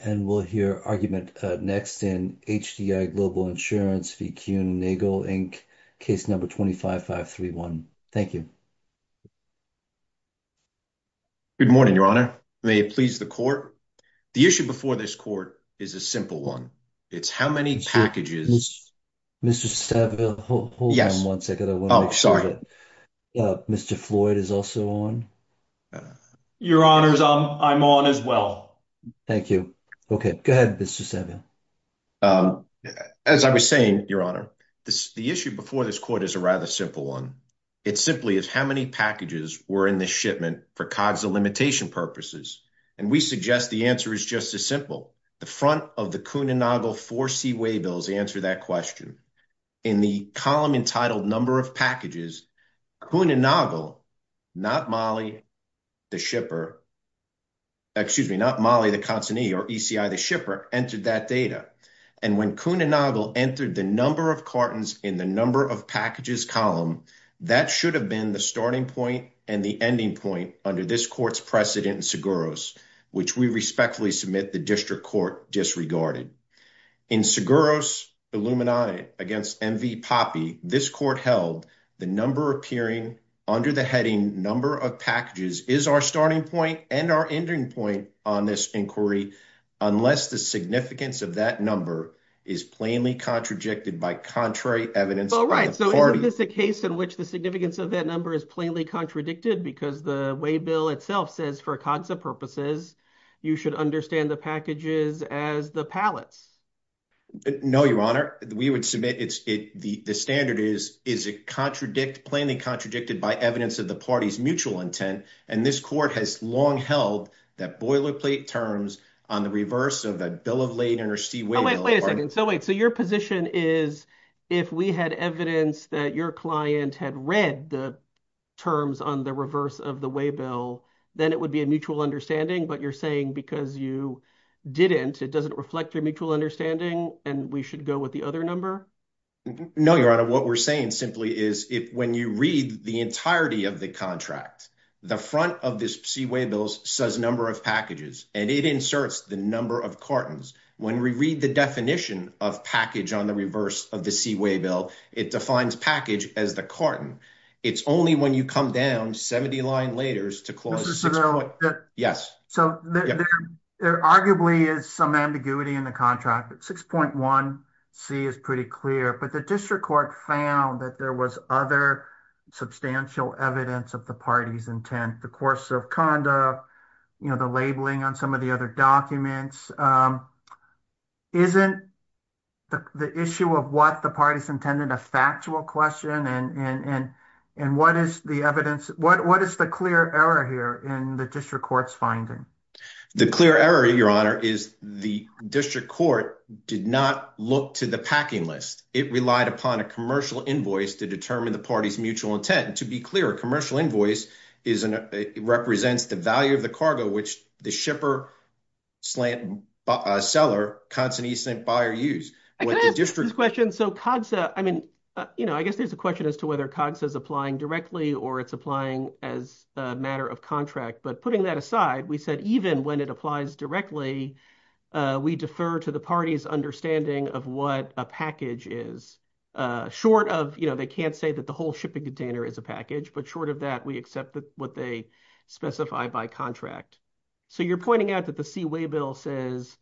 And we'll hear argument next in HDI Global Insurance v. Kuehne and Nagel, Inc. Case number 25-531. Thank you. Good morning, Your Honor. May it please the Court? The issue before this Court is a simple one. It's how many packages... Mr. Stavridis, hold on one second. Oh, sorry. Mr. Floyd is also on. Your Honors, I'm on as well. Thank you. Okay, go ahead, Mr. Savio. As I was saying, Your Honor, the issue before this Court is a rather simple one. It simply is how many packages were in the shipment for COGSA limitation purposes. And we suggest the answer is just as simple. The front of the Kuehne and Nagel 4C waybills answer that question. In the column entitled Number of Packages, Kuehne and Nagel, not Mollie the consignee or ECI the shipper, entered that data. And when Kuehne and Nagel entered the number of cartons in the Number of Packages column, that should have been the starting point and the ending point under this Court's precedent in Seguros, which we respectfully submit the District Court disregarded. In Seguros Illuminati against M.V. Poppe, this Court held the number appearing under the heading Number of Packages is our starting point and our ending point on this inquiry unless the significance of that number is plainly contradicted by contrary evidence. All right, so is this a case in which the significance of that number is plainly contradicted because the way bill itself says for COGSA purposes, you should understand the packages as the pallets? No, Your Honor. We would submit the standard is, is it plainly contradicted by evidence of the party's mutual intent? And this Court has long held that boilerplate terms on the reverse of the bill of late interstate way. Wait a second. So wait, so your position is if we had evidence that your client had read the terms on the reverse of the way bill, then it would be a mutual understanding, but you're saying because you didn't, it doesn't reflect your mutual understanding and we should go with the other number. No, Your Honor. What we're saying simply is if when you read the entirety of the contract, the front of this C way bills says number of packages and it inserts the number of cartons. When we read the definition of package on the reverse of the C way bill, it defines package as the carton. It's only when you come down 70 line laters to close. Yes. So there arguably is some ambiguity in the contract, but 6.1 C is pretty clear, but the district court found that there was other substantial evidence of the party's intent, the course of conduct, you know, the labeling on some of the other documents. Um, isn't the issue of what the parties intended a factual question and, and, and, and what is the evidence? What, what is the clear error here in the district courts finding the clear error? Your Honor is the district court did not look to the packing list. It relied upon a commercial invoice to determine the party's mutual intent. And to be clear, commercial invoice is, uh, represents the value of the cargo, which the shipper slant, uh, seller constant, he sent buyer use district question. So COGS, uh, I mean, uh, you know, I guess there's a question as to whether COGS is applying directly or it's applying as a matter of contract, but putting that aside, we said, even when it applies directly, uh, we defer to the party's understanding of what a package is, uh, short of, you know, they can't say that the whole shipping container is a package, but short of that, we accept that what they specify by contract. So you're pointing out that the C-way bill says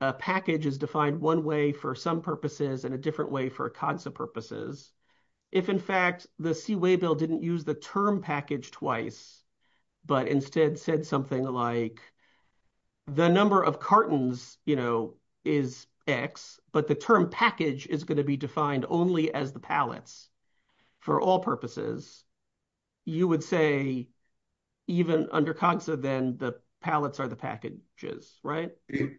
a package is defined one way for some purposes and a different way for COGS purposes. If in fact the C-way bill didn't use the term package twice, but instead said something like the number of cartons, you know, is X, but the term package is going to be defined only as the pallets for all purposes. You would say even under COGSA, then the pallets are the packages, right? You're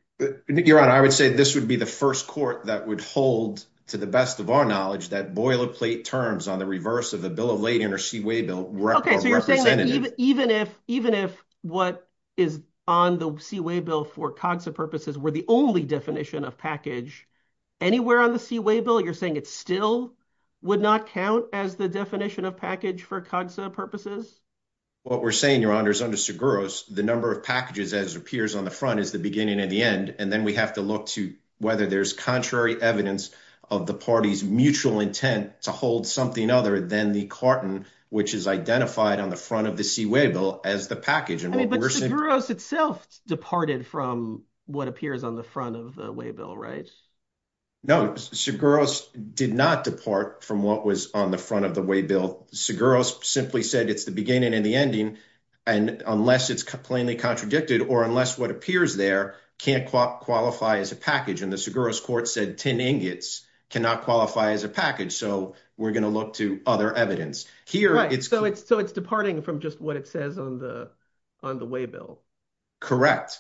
right. I would say this would be the first court that would hold to the best of our knowledge, that boilerplate terms on the reverse of the bill of lading or C-way bill representative. Okay. So you're saying that even if, even if what is on the C-way bill for COGS purposes were the only definition of package anywhere on the C-way bill, you're saying it still would not count as the definition of package for COGSA purposes? What we're saying, Your Honor, is under Seguros, the number of packages as it appears on the front is the beginning and the end. And then we have to look to whether there's contrary evidence of the party's mutual intent to hold something other than the carton, which is identified on the front of the C-way bill as the package. But Seguros itself departed from what appears on the front of the C-way bill, right? No, Seguros did not depart from what was on the front of the C-way bill. Seguros simply said it's the beginning and the ending, and unless it's plainly contradicted or unless what appears there can't qualify as a package, and the Seguros court said 10 ingots cannot qualify as a package. So we're going to look to other evidence. Right. So it's departing from just what it says on the C-way bill. Correct.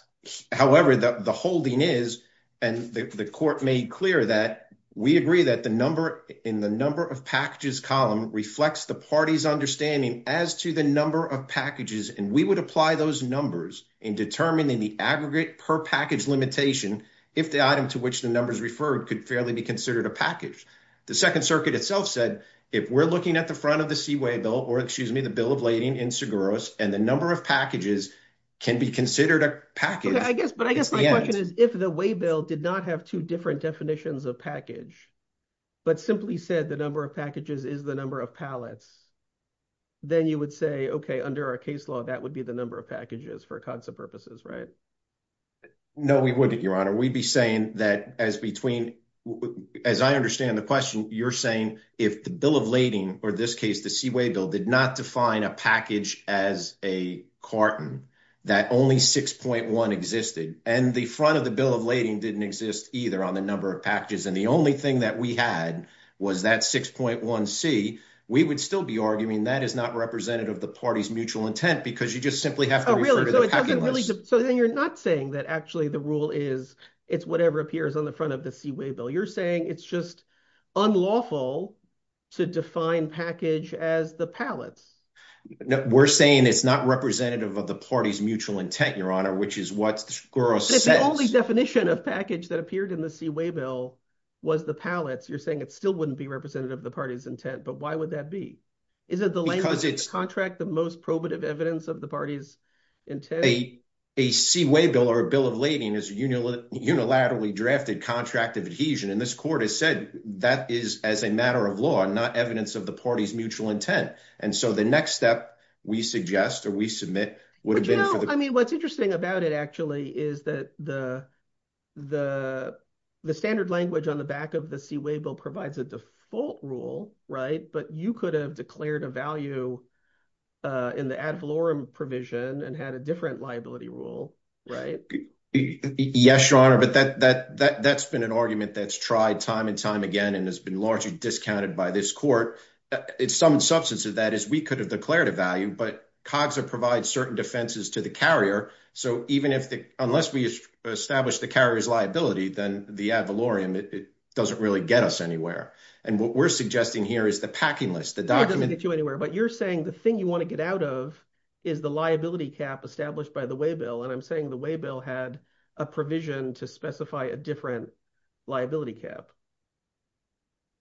However, the holding is, and the court made clear that we agree that the number in the number of packages column reflects the party's understanding as to the number of packages, and we would apply those numbers in determining the aggregate per package limitation if the item to which the numbers referred could fairly be considered a package. The Second Circuit itself said if we're looking at the front of the C-way bill, or excuse me, the bill of lading in Seguros, and the number of packages can be considered a package. I guess, but I guess my question is, if the way bill did not have two different definitions of package, but simply said the number of packages is the number of pallets, then you would say, okay, under our case law, that would be the number of packages for concept purposes, right? No, we wouldn't, Your Honor. We'd be saying that as between, as I understand the question, you're saying if the bill of lading, or this case, the C-way bill did not define a package as a carton, that only 6.1 existed, and the front of the bill of lading didn't exist either on the number of packages, and the only thing that we had was that 6.1c, we would still be arguing that is not representative of the party's mutual intent because you just simply have to refer to the packing list. Oh, really? So then you're not saying that actually the rule is, it's whatever appears on the front of the C-way bill. You're saying it's just unlawful to define package as the pallets. No, we're saying it's not representative of the party's mutual intent, Your Honor, which is what Scuros says. If the only definition of package that appeared in the C-way bill was the pallets, you're saying it still wouldn't be representative of the party's intent, but why would that be? Is it the language of the contract, the most probative evidence of the contract of adhesion, and this court has said that is, as a matter of law, not evidence of the party's mutual intent, and so the next step we suggest or we submit would have been... But you know, I mean, what's interesting about it actually is that the standard language on the back of the C-way bill provides a default rule, right, but you could have declared a value in the ad valorem provision and had a different liability rule, right? Yes, Your Honor, but that's been an argument that's tried time and time again and has been largely discounted by this court. Some substance of that is we could have declared a value, but COGSA provides certain defenses to the carrier, so even if the... Unless we establish the carrier's liability, then the ad valorem, it doesn't really get us anywhere, and what we're suggesting here is the packing list, the document... It doesn't get you anywhere, but you're saying the thing you want to get out of is the liability cap established by the C-way bill had a provision to specify a different liability cap.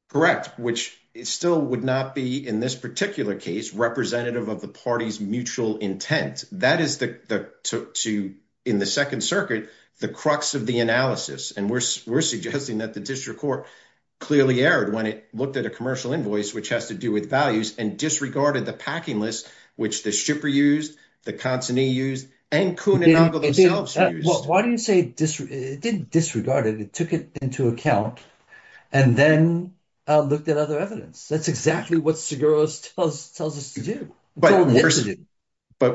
Correct, which still would not be, in this particular case, representative of the party's mutual intent. That is, in the Second Circuit, the crux of the analysis, and we're suggesting that the district court clearly erred when it looked at a commercial invoice, which has to do with values, and disregarded the packing list, which the shipper used, the consignee used, and Kuhn and Nagel themselves used. Why do you say disregarded? It didn't disregard it. It took it into account and then looked at other evidence. That's exactly what Seguros tells us to do. But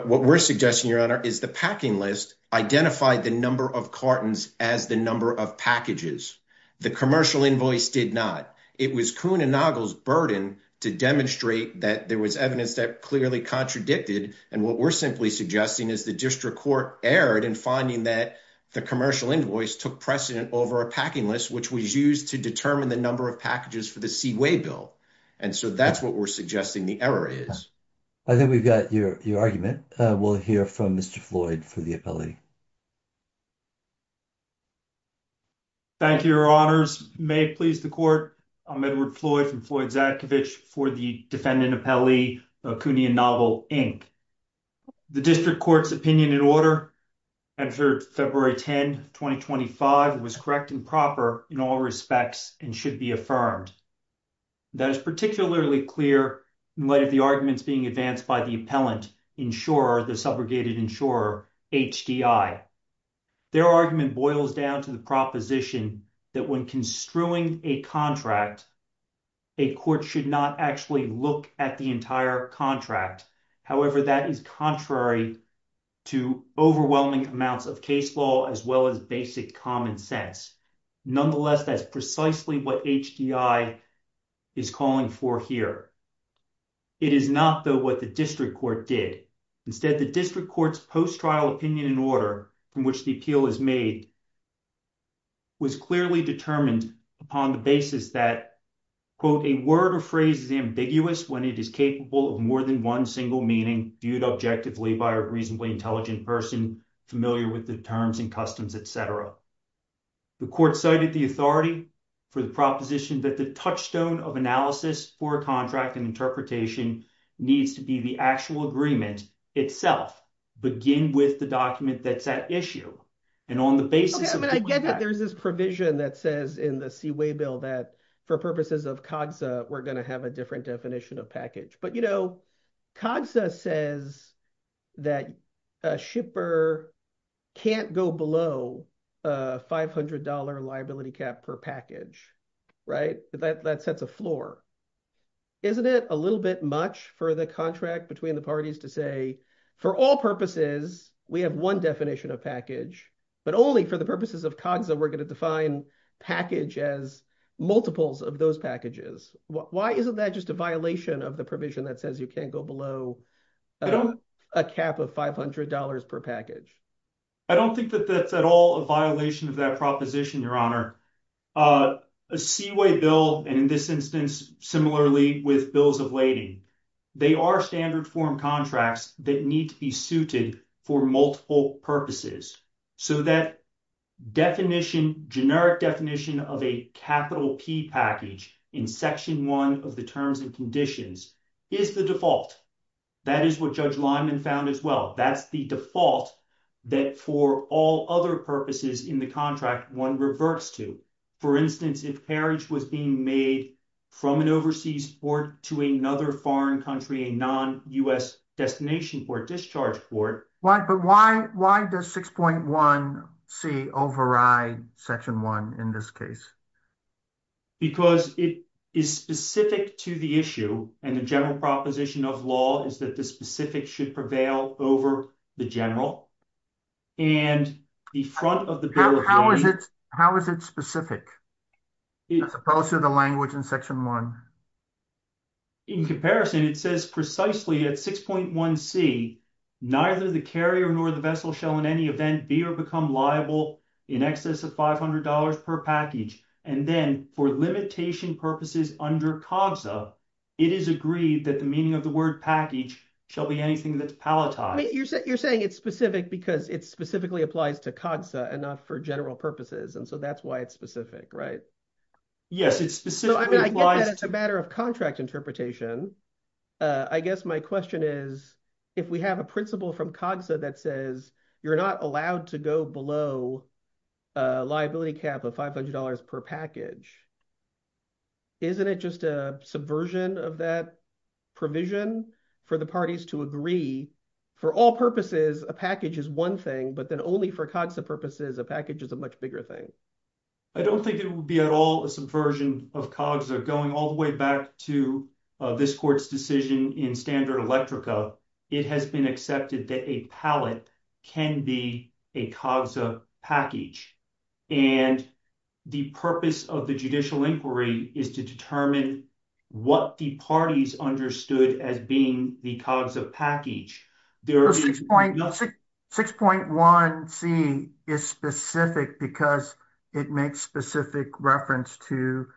what we're suggesting, Your Honor, is the packing list identified the number of cartons as the number of packages. The commercial invoice did not. It was Kuhn and Nagel's burden to demonstrate that there was evidence that clearly contradicted, and what we're simply suggesting is the district court erred in finding that the commercial invoice took precedent over a packing list, which was used to determine the number of packages for the C-way bill. And so that's what we're suggesting the error is. I think we've got your argument. We'll hear from Mr. Floyd for the appellee. Thank you, Your Honors. May it please the court, I'm Edward Floyd from Floyd-Zakovich for the defendant appellee, Kuhn and Nagel, Inc. The district court's opinion and order entered February 10, 2025, was correct and proper in all respects and should be affirmed. That is particularly clear in light of the arguments being advanced by the appellant insurer, the subrogated insurer, HDI. Their argument boils down to the proposition that when construing a contract, a court should not actually look at the entire contract. However, that is contrary to overwhelming amounts of case law as well as basic common sense. Nonetheless, that's precisely what HDI is calling for here. It is not, though, what the district court did. Instead, the district court's post-trial opinion and order, from which the appeal is made, was clearly determined upon the basis that, quote, a word or phrase is ambiguous when it is capable of more than one single meaning, viewed objectively by a reasonably intelligent person, familiar with the terms and customs, etc. The court cited the authority for the proposition that the touchstone of analysis for a contract and interpretation needs to be the actual agreement itself, begin with the document that's at issue. I get that there's this provision that says in the Seaway Bill that, for purposes of COGSA, we're going to have a different definition of package. COGSA says that a shipper can't go below a $500 liability cap per package. That sets a floor. Isn't it a little bit much for the contract between the parties to say, for all purposes, we have one definition of package, but only for the purposes of COGSA we're going to define package as multiples of those packages? Why isn't that just a violation of the provision that says you can't go below a cap of $500 per package? I don't think that that's at all a violation of that proposition, Your Honor. A Seaway Bill, and in this instance, similarly with bills of lading, they are standard form contracts that need to be suited for multiple purposes. So that definition, generic definition of a capital P package in section one of the terms and conditions is the default. That is what Judge Lyman found as well. That's the default that for all other purposes in the contract, one reverts to. For instance, if carriage was being made from an overseas port to another foreign country, a non-U.S. destination port, discharge port. But why does 6.1c override section one in this case? Because it is specific to the issue and the general proposition of law is that the specific should prevail over the general. How is it specific as opposed to the language in section one? In comparison, it says precisely at 6.1c, neither the carrier nor the vessel shall in any event be or become liable in excess of $500 per package. And then for limitation purposes under COGSA, it is agreed that the meaning of the word package shall be anything that's palletized. You're saying it's specific because it specifically applies to COGSA and not for general purposes. And so that's why it's specific, right? Yes, it's specific. I mean, I get that as a matter of contract interpretation. I guess my question is if we have a principle from COGSA that says you're not allowed to go below a liability cap of $500 per package, isn't it just a subversion of that provision for the parties to agree for all purposes, a package is one thing, but then only for COGSA purposes, a package is a much bigger thing? I don't think it would be at all a subversion of COGSA going all the way back to this court's decision in standard electrica. It has been accepted that a pallet can be a COGSA package and the purpose of the judicial inquiry is to determine what the parties understood as being the COGSA package. 6.1c is specific because it makes specific reference to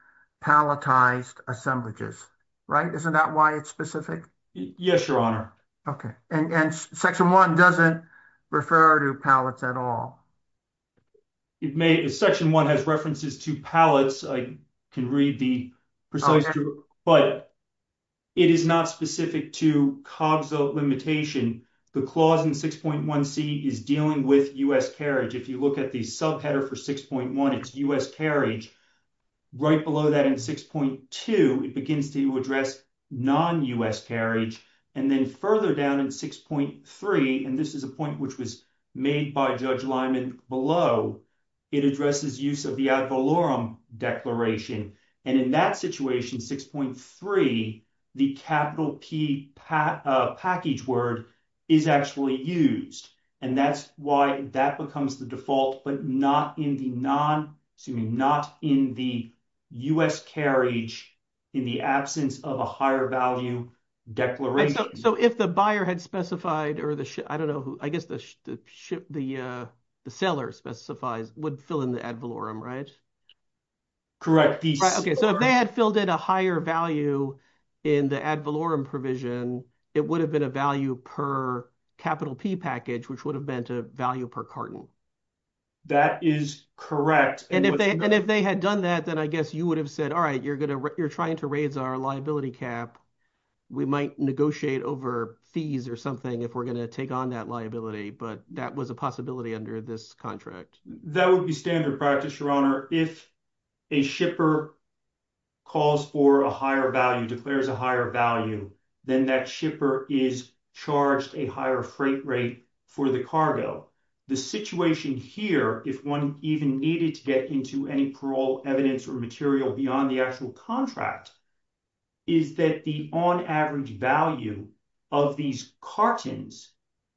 palletized assemblages, right? Isn't that why it's specific? Yes, your honor. Okay, and section one doesn't refer to pallets at all. It may, section one has references to pallets. I can read the precise, but it is not specific to COGSA limitation. The clause in 6.1c is dealing with U.S. carriage. If you look at the subheader 6.1, it's U.S. carriage. Right below that in 6.2, it begins to address non-U.S. carriage. And then further down in 6.3, and this is a point which was made by Judge Lyman below, it addresses use of the ad valorem declaration. And in that situation, 6.3, the capital P package word is actually used. And that's why that becomes the default, but not in the non, excuse me, not in the U.S. carriage in the absence of a higher value declaration. So if the buyer had specified or the, I don't know who, I guess the seller specifies would fill in the ad valorem, right? Correct. Okay, so if they had filled in a higher value in the ad valorem provision, it would have been a value per capital P package, which would have been to value per carton. That is correct. And if they had done that, then I guess you would have said, all right, you're going to, you're trying to raise our liability cap. We might negotiate over fees or something if we're going to take on that liability, but that was a possibility under this contract. That would be standard practice, Your Honor. If a shipper calls for a higher value, declares a higher value, then that shipper is charged a higher freight rate for the cargo. The situation here, if one even needed to get into any parole evidence or material beyond the actual contract, is that the on average value of these cartons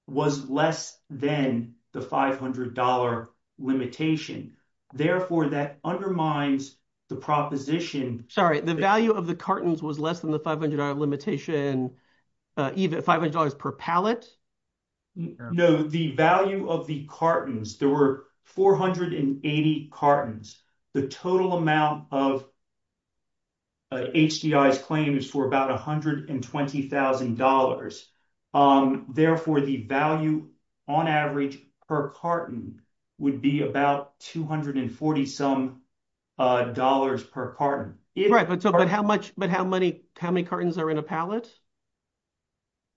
was less than the $500 limitation. Therefore, that undermines the proposition. Sorry, the value of the cartons was less than the $500 limitation, even $500 per pallet? No, the value of the cartons, there were 480 cartons. The total amount of HDI's claim is for about $120,000. Therefore, the value on average per carton would be about $240 some dollars per carton. Right, but how many cartons are in a pallet?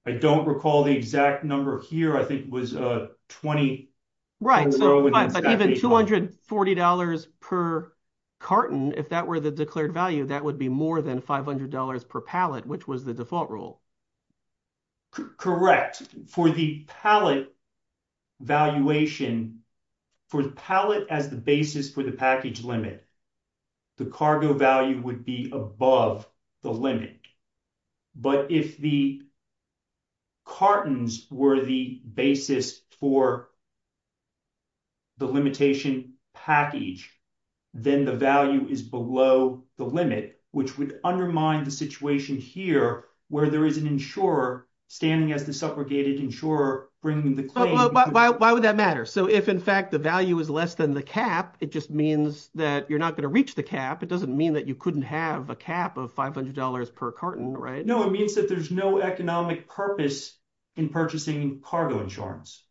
I don't recall the exact number here. I think it was $240 per carton. If that were the declared value, that would be more than $500 per pallet, which was the default rule. Correct. For the pallet valuation, for the pallet as the basis for the package limit, the cargo value would be above the limit. But if the cartons were the basis for the limitation package, then the value is below the limit, which would undermine the situation here where there is an insurer standing as the suffragated insurer bringing the claim. Why would that matter? If in fact the value is less than the cap, it just means that you're not going to reach the cap. It doesn't mean that you couldn't have a cap of $500 per carton, right? No, it means that there's no economic purpose in purchasing cargo insurance.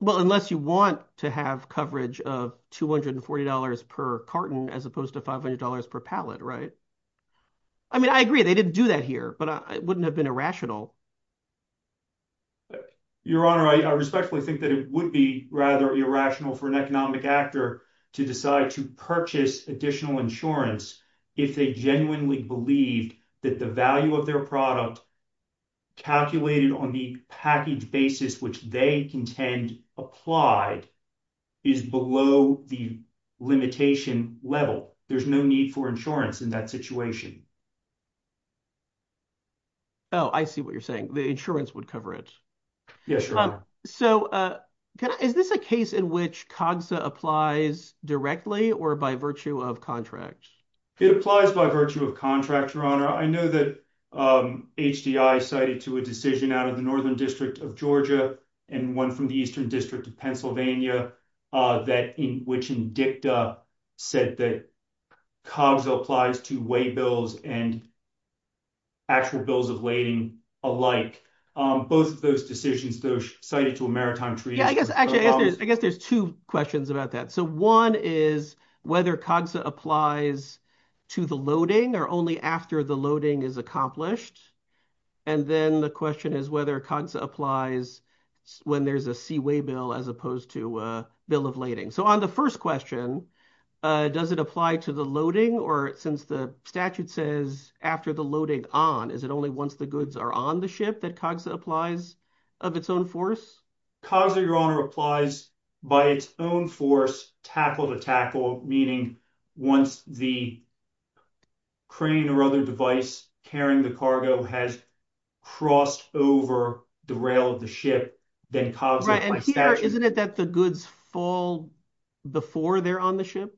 Well, unless you want to have coverage of $240 per carton as opposed to $500 per pallet, right? I mean, I agree they didn't do that here, but it wouldn't have been irrational. Your Honor, I respectfully think that it would be rather irrational for an economic actor to decide to purchase additional insurance if they genuinely believed that the value of their product calculated on the package basis, which they contend applied, is below the limitation level. There's no need for insurance in that situation. Oh, I see what you're saying. The insurance would cover it. Yes, Your Honor. Is this a case in which COGSA applies directly or by virtue of contract? It applies by virtue of contract, Your Honor. I know that HDI cited to a decision out of the Northern District of Georgia and one from the Eastern District of Pennsylvania, which INDICTA said that COGSA applies to way bills and actual bills of lading alike. Both of those decisions, though, cited to a maritime treaty. I guess there's two questions about that. One is whether COGSA applies to the loading or only after the loading is accomplished. Then the question is whether COGSA applies when there's a seaway bill as opposed to a bill of lading. On the first question, does it apply to the loading or since the statute says after the loading on, is it only once the goods are on the ship that COGSA applies of its own force? COGSA, Your Honor, applies by its own force, tackle to tackle, meaning once the crane or other device carrying the cargo has crossed over the rail of the ship. Right. And here, isn't it that the goods fall before they're on the ship?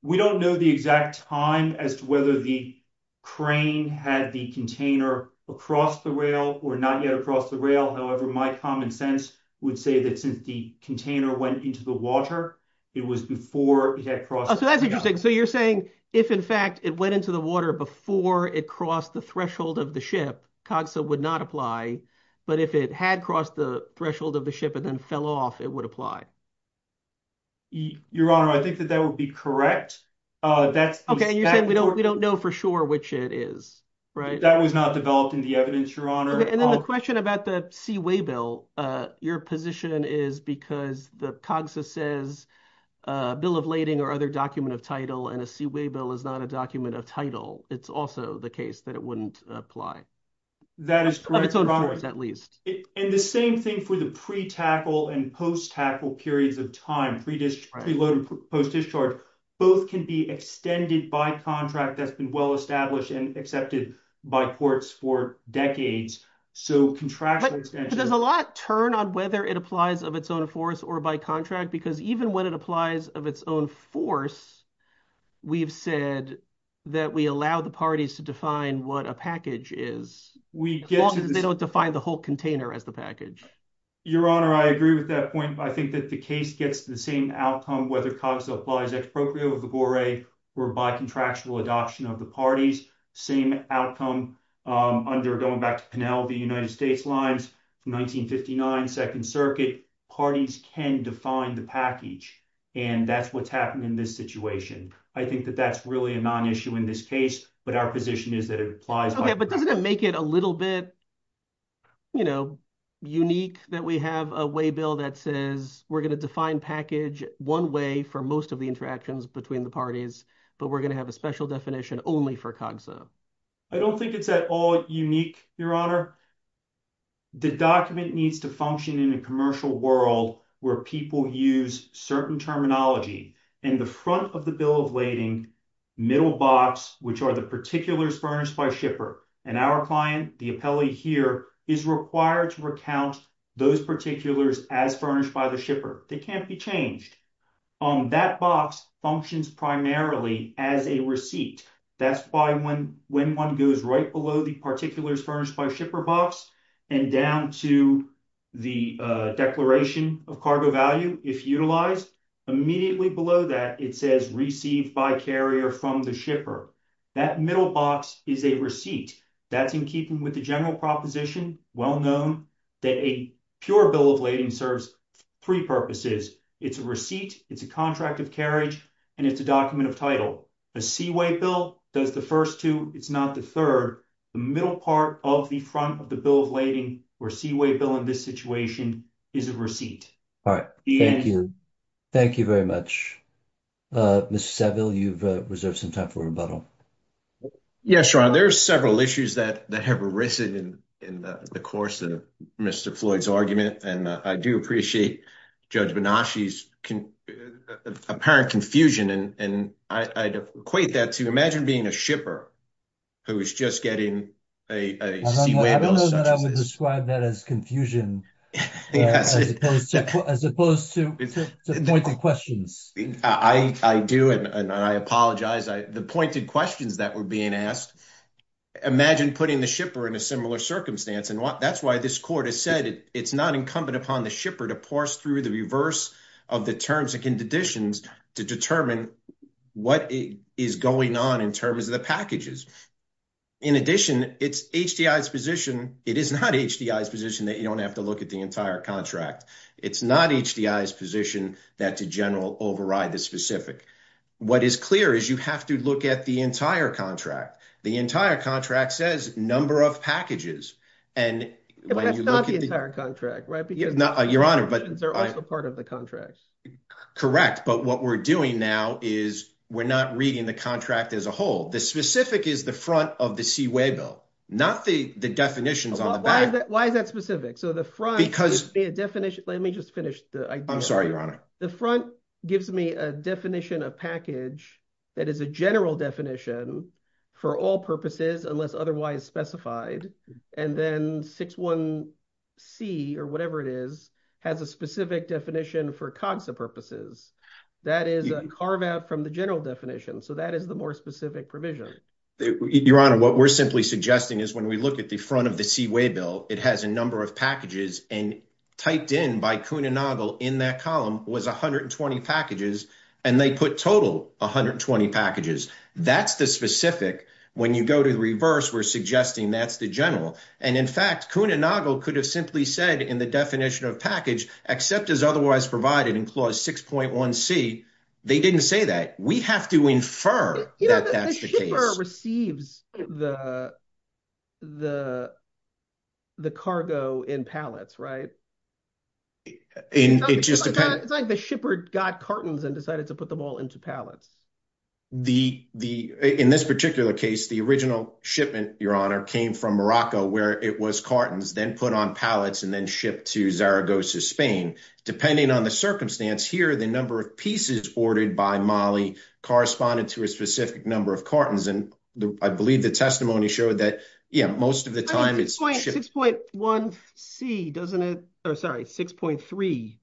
We don't know the exact time as to whether the crane had the container across the rail or not yet across the rail. However, my common sense would say that since the container went into the water, it was before it had crossed. So that's interesting. So you're saying if in fact it went into the water before it crossed the threshold of the ship, COGSA would not apply. But if it had crossed the threshold of the ship and then fell off, it would apply. Your Honor, I think that that would be correct. Okay. You're saying we don't know for sure which it is, right? That was not developed in the evidence, Your Honor. And then the question about the seaway bill, your position is because the COGSA says a bill of lading or other document of title and a seaway bill is not a document of title. It's also the case that it wouldn't apply. That is correct, Your Honor. Of its own force, at least. And the same thing for the pre-tackle and post-tackle periods of time, pre-load and post-discharge, both can be extended by contract that's been well-established and accepted by ports for decades. So contractual extension... But does a lot turn on whether it applies of its own force or by contract? Because even when it the parties to define what a package is, they don't define the whole container as the package. Your Honor, I agree with that point. I think that the case gets the same outcome, whether COGSA applies exproprio of the boray or by contractual adoption of the parties, same outcome under, going back to Penel, the United States lines from 1959, Second Circuit, parties can define the package. And that's what's happened in this situation. I think that that's really a non-issue in this case, but our position is that it applies... Okay, but doesn't it make it a little bit unique that we have a way bill that says we're going to define package one way for most of the interactions between the parties, but we're going to have a special definition only for COGSA? I don't think it's at all unique, Your Honor. The document needs to function in a commercial world where people use certain terminology and the front of the bill of lading, middle box, which are the particulars furnished by shipper and our client, the appellee here is required to recount those particulars as furnished by the shipper. They can't be changed. That box functions primarily as a receipt. That's why when one goes right below the particulars furnished by shipper box and down to the declaration of cargo value, if utilized, immediately below that, it says received by carrier from the shipper. That middle box is a receipt. That's in keeping with the general proposition, well known, that a pure bill of lading serves three purposes. It's a receipt, it's a contract of carriage, and it's a document of title. A C-way bill does the first two, it's not the third. The middle part of the front of the bill of lading or C-way bill in this situation is a receipt. All right, thank you. Thank you very much. Mr. Saville, you've reserved some time for rebuttal. Yes, Ron, there's several issues that have arisen in the course of Mr. Floyd's argument, and I do appreciate Judge Benashi's apparent confusion, and I'd equate that to imagine being a shipper who is just getting a C-way bill. I don't know that I would imagine putting the shipper in a similar circumstance, and that's why this court has said it's not incumbent upon the shipper to parse through the reverse of the terms and conditions to determine what is going on in terms of the packages. In addition, it's HDI's position, it is not HDI's position, that you don't have to look at the entire contract. It's not HDI's position that to general override the specific. What is clear is you have to look at the entire contract. The entire contract says number of packages, and when you look at the entire contract, right, because not your honor, but they're also part of the contract. Correct, but what we're doing now is we're not reading the contract as a whole. The specific is the front of the C-way bill, not the the definitions on the back. Why is that specific? So the front definition, let me just finish. I'm sorry, your honor. The front gives me a definition of package that is a general definition for all purposes unless otherwise specified, and then 61C, or whatever it is, has a specific definition for COGSA purposes. That is a carve out from the general definition, so that is the more specific provision. Your honor, what we're simply suggesting is when we look at the front of the C-way bill, it has a number of packages, and typed in by Coon & Noggle in that column was 120 packages, and they put total 120 packages. That's the specific. When you go to the reverse, we're suggesting that's the general, and in fact, Coon & Noggle could have simply said in the definition of package, except as otherwise provided in clause 6.1C, they didn't say that. We have to infer that that's the case. The shipper receives the cargo in pallets, right? It's like the shipper got cartons and decided to put them all into pallets. The, in this particular case, the original shipment, your honor, came from Morocco, where it was cartons, then put on pallets, and then shipped to Zaragoza, Spain. Depending on the circumstance here, the number of pieces ordered by Mali corresponded to a specific number of cartons, and I believe the testimony showed that, yeah, most of the time it's- 6.1C, doesn't it? Oh, sorry, 6.3.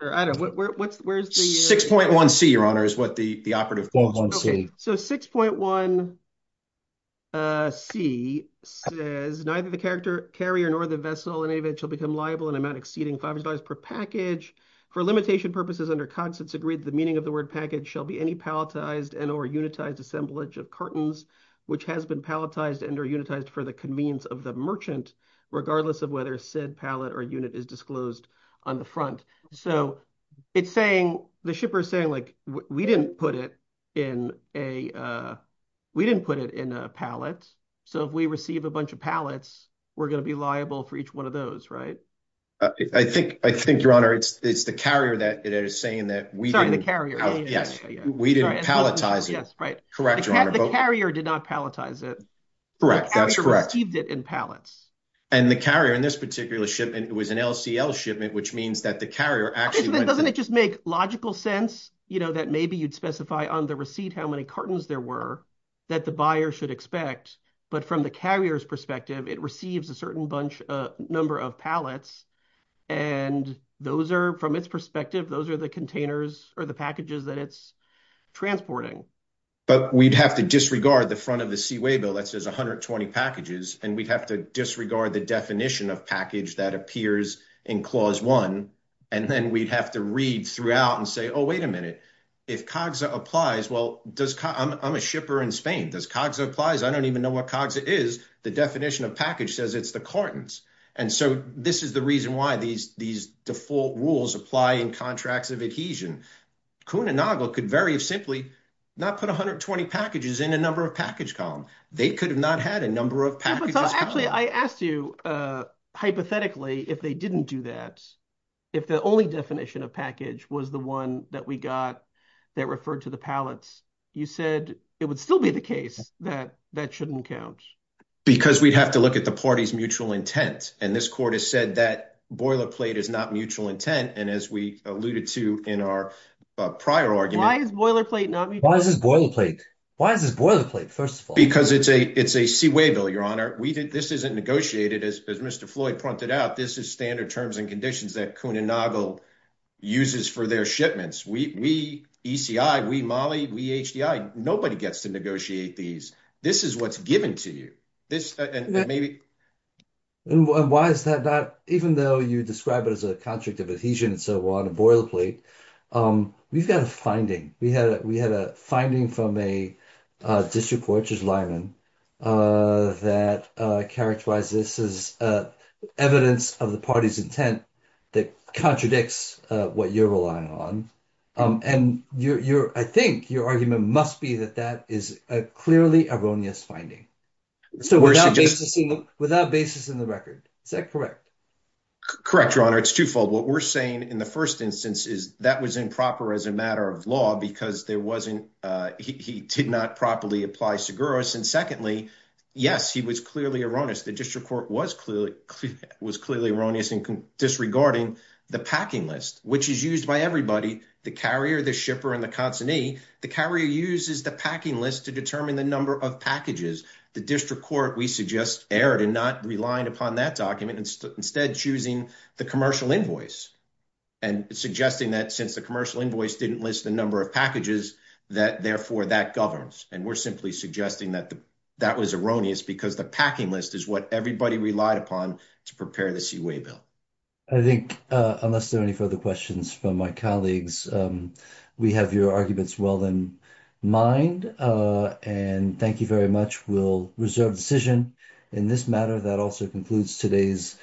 Or I don't know, what's, where's the- 6.1C, your honor, is what the operative- 6.1C. Okay, so 6.1C says, neither the carrier nor the vessel in any event shall become liable in an amount exceeding $500 per package. For limitation purposes under Cogstance agreed, the meaning of the word package shall be any palletized and or unitized assemblage of cartons, which has been palletized and or unitized for the convenience of the merchant, regardless of whether said pallet or unit is disclosed on the front. So, it's saying, the shipper is saying, like, we didn't put it in a, we didn't put it in a pallet, so if we receive a bunch of pallets, we're going to be liable for each one of those, right? I think, your honor, it's the carrier that is saying that we- Sorry, the carrier. Yes, we didn't palletize it. Yes, right. Correct, your honor. The carrier did not palletize it. Correct, that's correct. The carrier received it in pallets. And the carrier in this particular ship, it was an LCL shipment, which means that the carrier actually- Doesn't it just make logical sense, you know, that maybe you'd specify on the receipt how many cartons there were that the buyer should expect, but from the carrier's perspective, it receives a certain bunch, number of pallets, and those are, from its perspective, those are the containers or the packages that it's transporting. But we'd have to disregard the front of the Seaway bill that says 120 packages, and we'd have to disregard the definition of package that appears in Clause 1, and then we'd have to read throughout and say, oh, wait a minute. If CAGSA applies, well, does- I'm a shipper in Spain. Does CAGSA applies? I don't even know what CAGSA is. The definition of package says it's the cartons. And so this is the reason why these default rules apply in contracts of adhesion. CUNA-NAGLE could very simply not put 120 packages in a number of package column. They could have not had a number of packages. Actually, I asked you, hypothetically, if they didn't do that, if the only definition of package was the one that we got that referred to the pallets, you said it would still be the case that that shouldn't count. Because we'd have to look at the party's mutual intent. And this court has said that boilerplate is not mutual intent. And as we alluded to in our prior argument- Why is boilerplate not- Why is this boilerplate? Why is this boilerplate, first of all? It's a C-way bill, Your Honor. This isn't negotiated, as Mr. Floyd pointed out. This is standard terms and conditions that CUNA-NAGLE uses for their shipments. We, ECI, we, Mali, we, HDI, nobody gets to negotiate these. This is what's given to you. Why is that not- Even though you describe it as a contract of adhesion and so on, a boilerplate, we've got a finding. We had a finding from a district court, which is Lyman, that characterized this as evidence of the party's intent that contradicts what you're relying on. And I think your argument must be that that is a clearly erroneous finding. Without basis in the record. Is that correct? Correct, Your Honor. It's twofold. What we're saying in the first instance is that was improper as a matter of law, because there wasn't- He did not properly apply Seguros. And secondly, yes, he was clearly erroneous. The district court was clearly erroneous in disregarding the packing list, which is used by everybody, the carrier, the shipper, and the consignee. The carrier uses the packing list to determine the number of packages. The district court, we suggest, erred in not relying upon that document, instead choosing the commercial invoice. And suggesting that since the commercial invoice didn't list the number of packages, that therefore that governs. And we're simply suggesting that that was erroneous, because the packing list is what everybody relied upon to prepare the Seaway Bill. I think, unless there are any further questions from my colleagues, we have your arguments well in mind. And thank you very much. We'll reserve decision in this matter. That also concludes today's-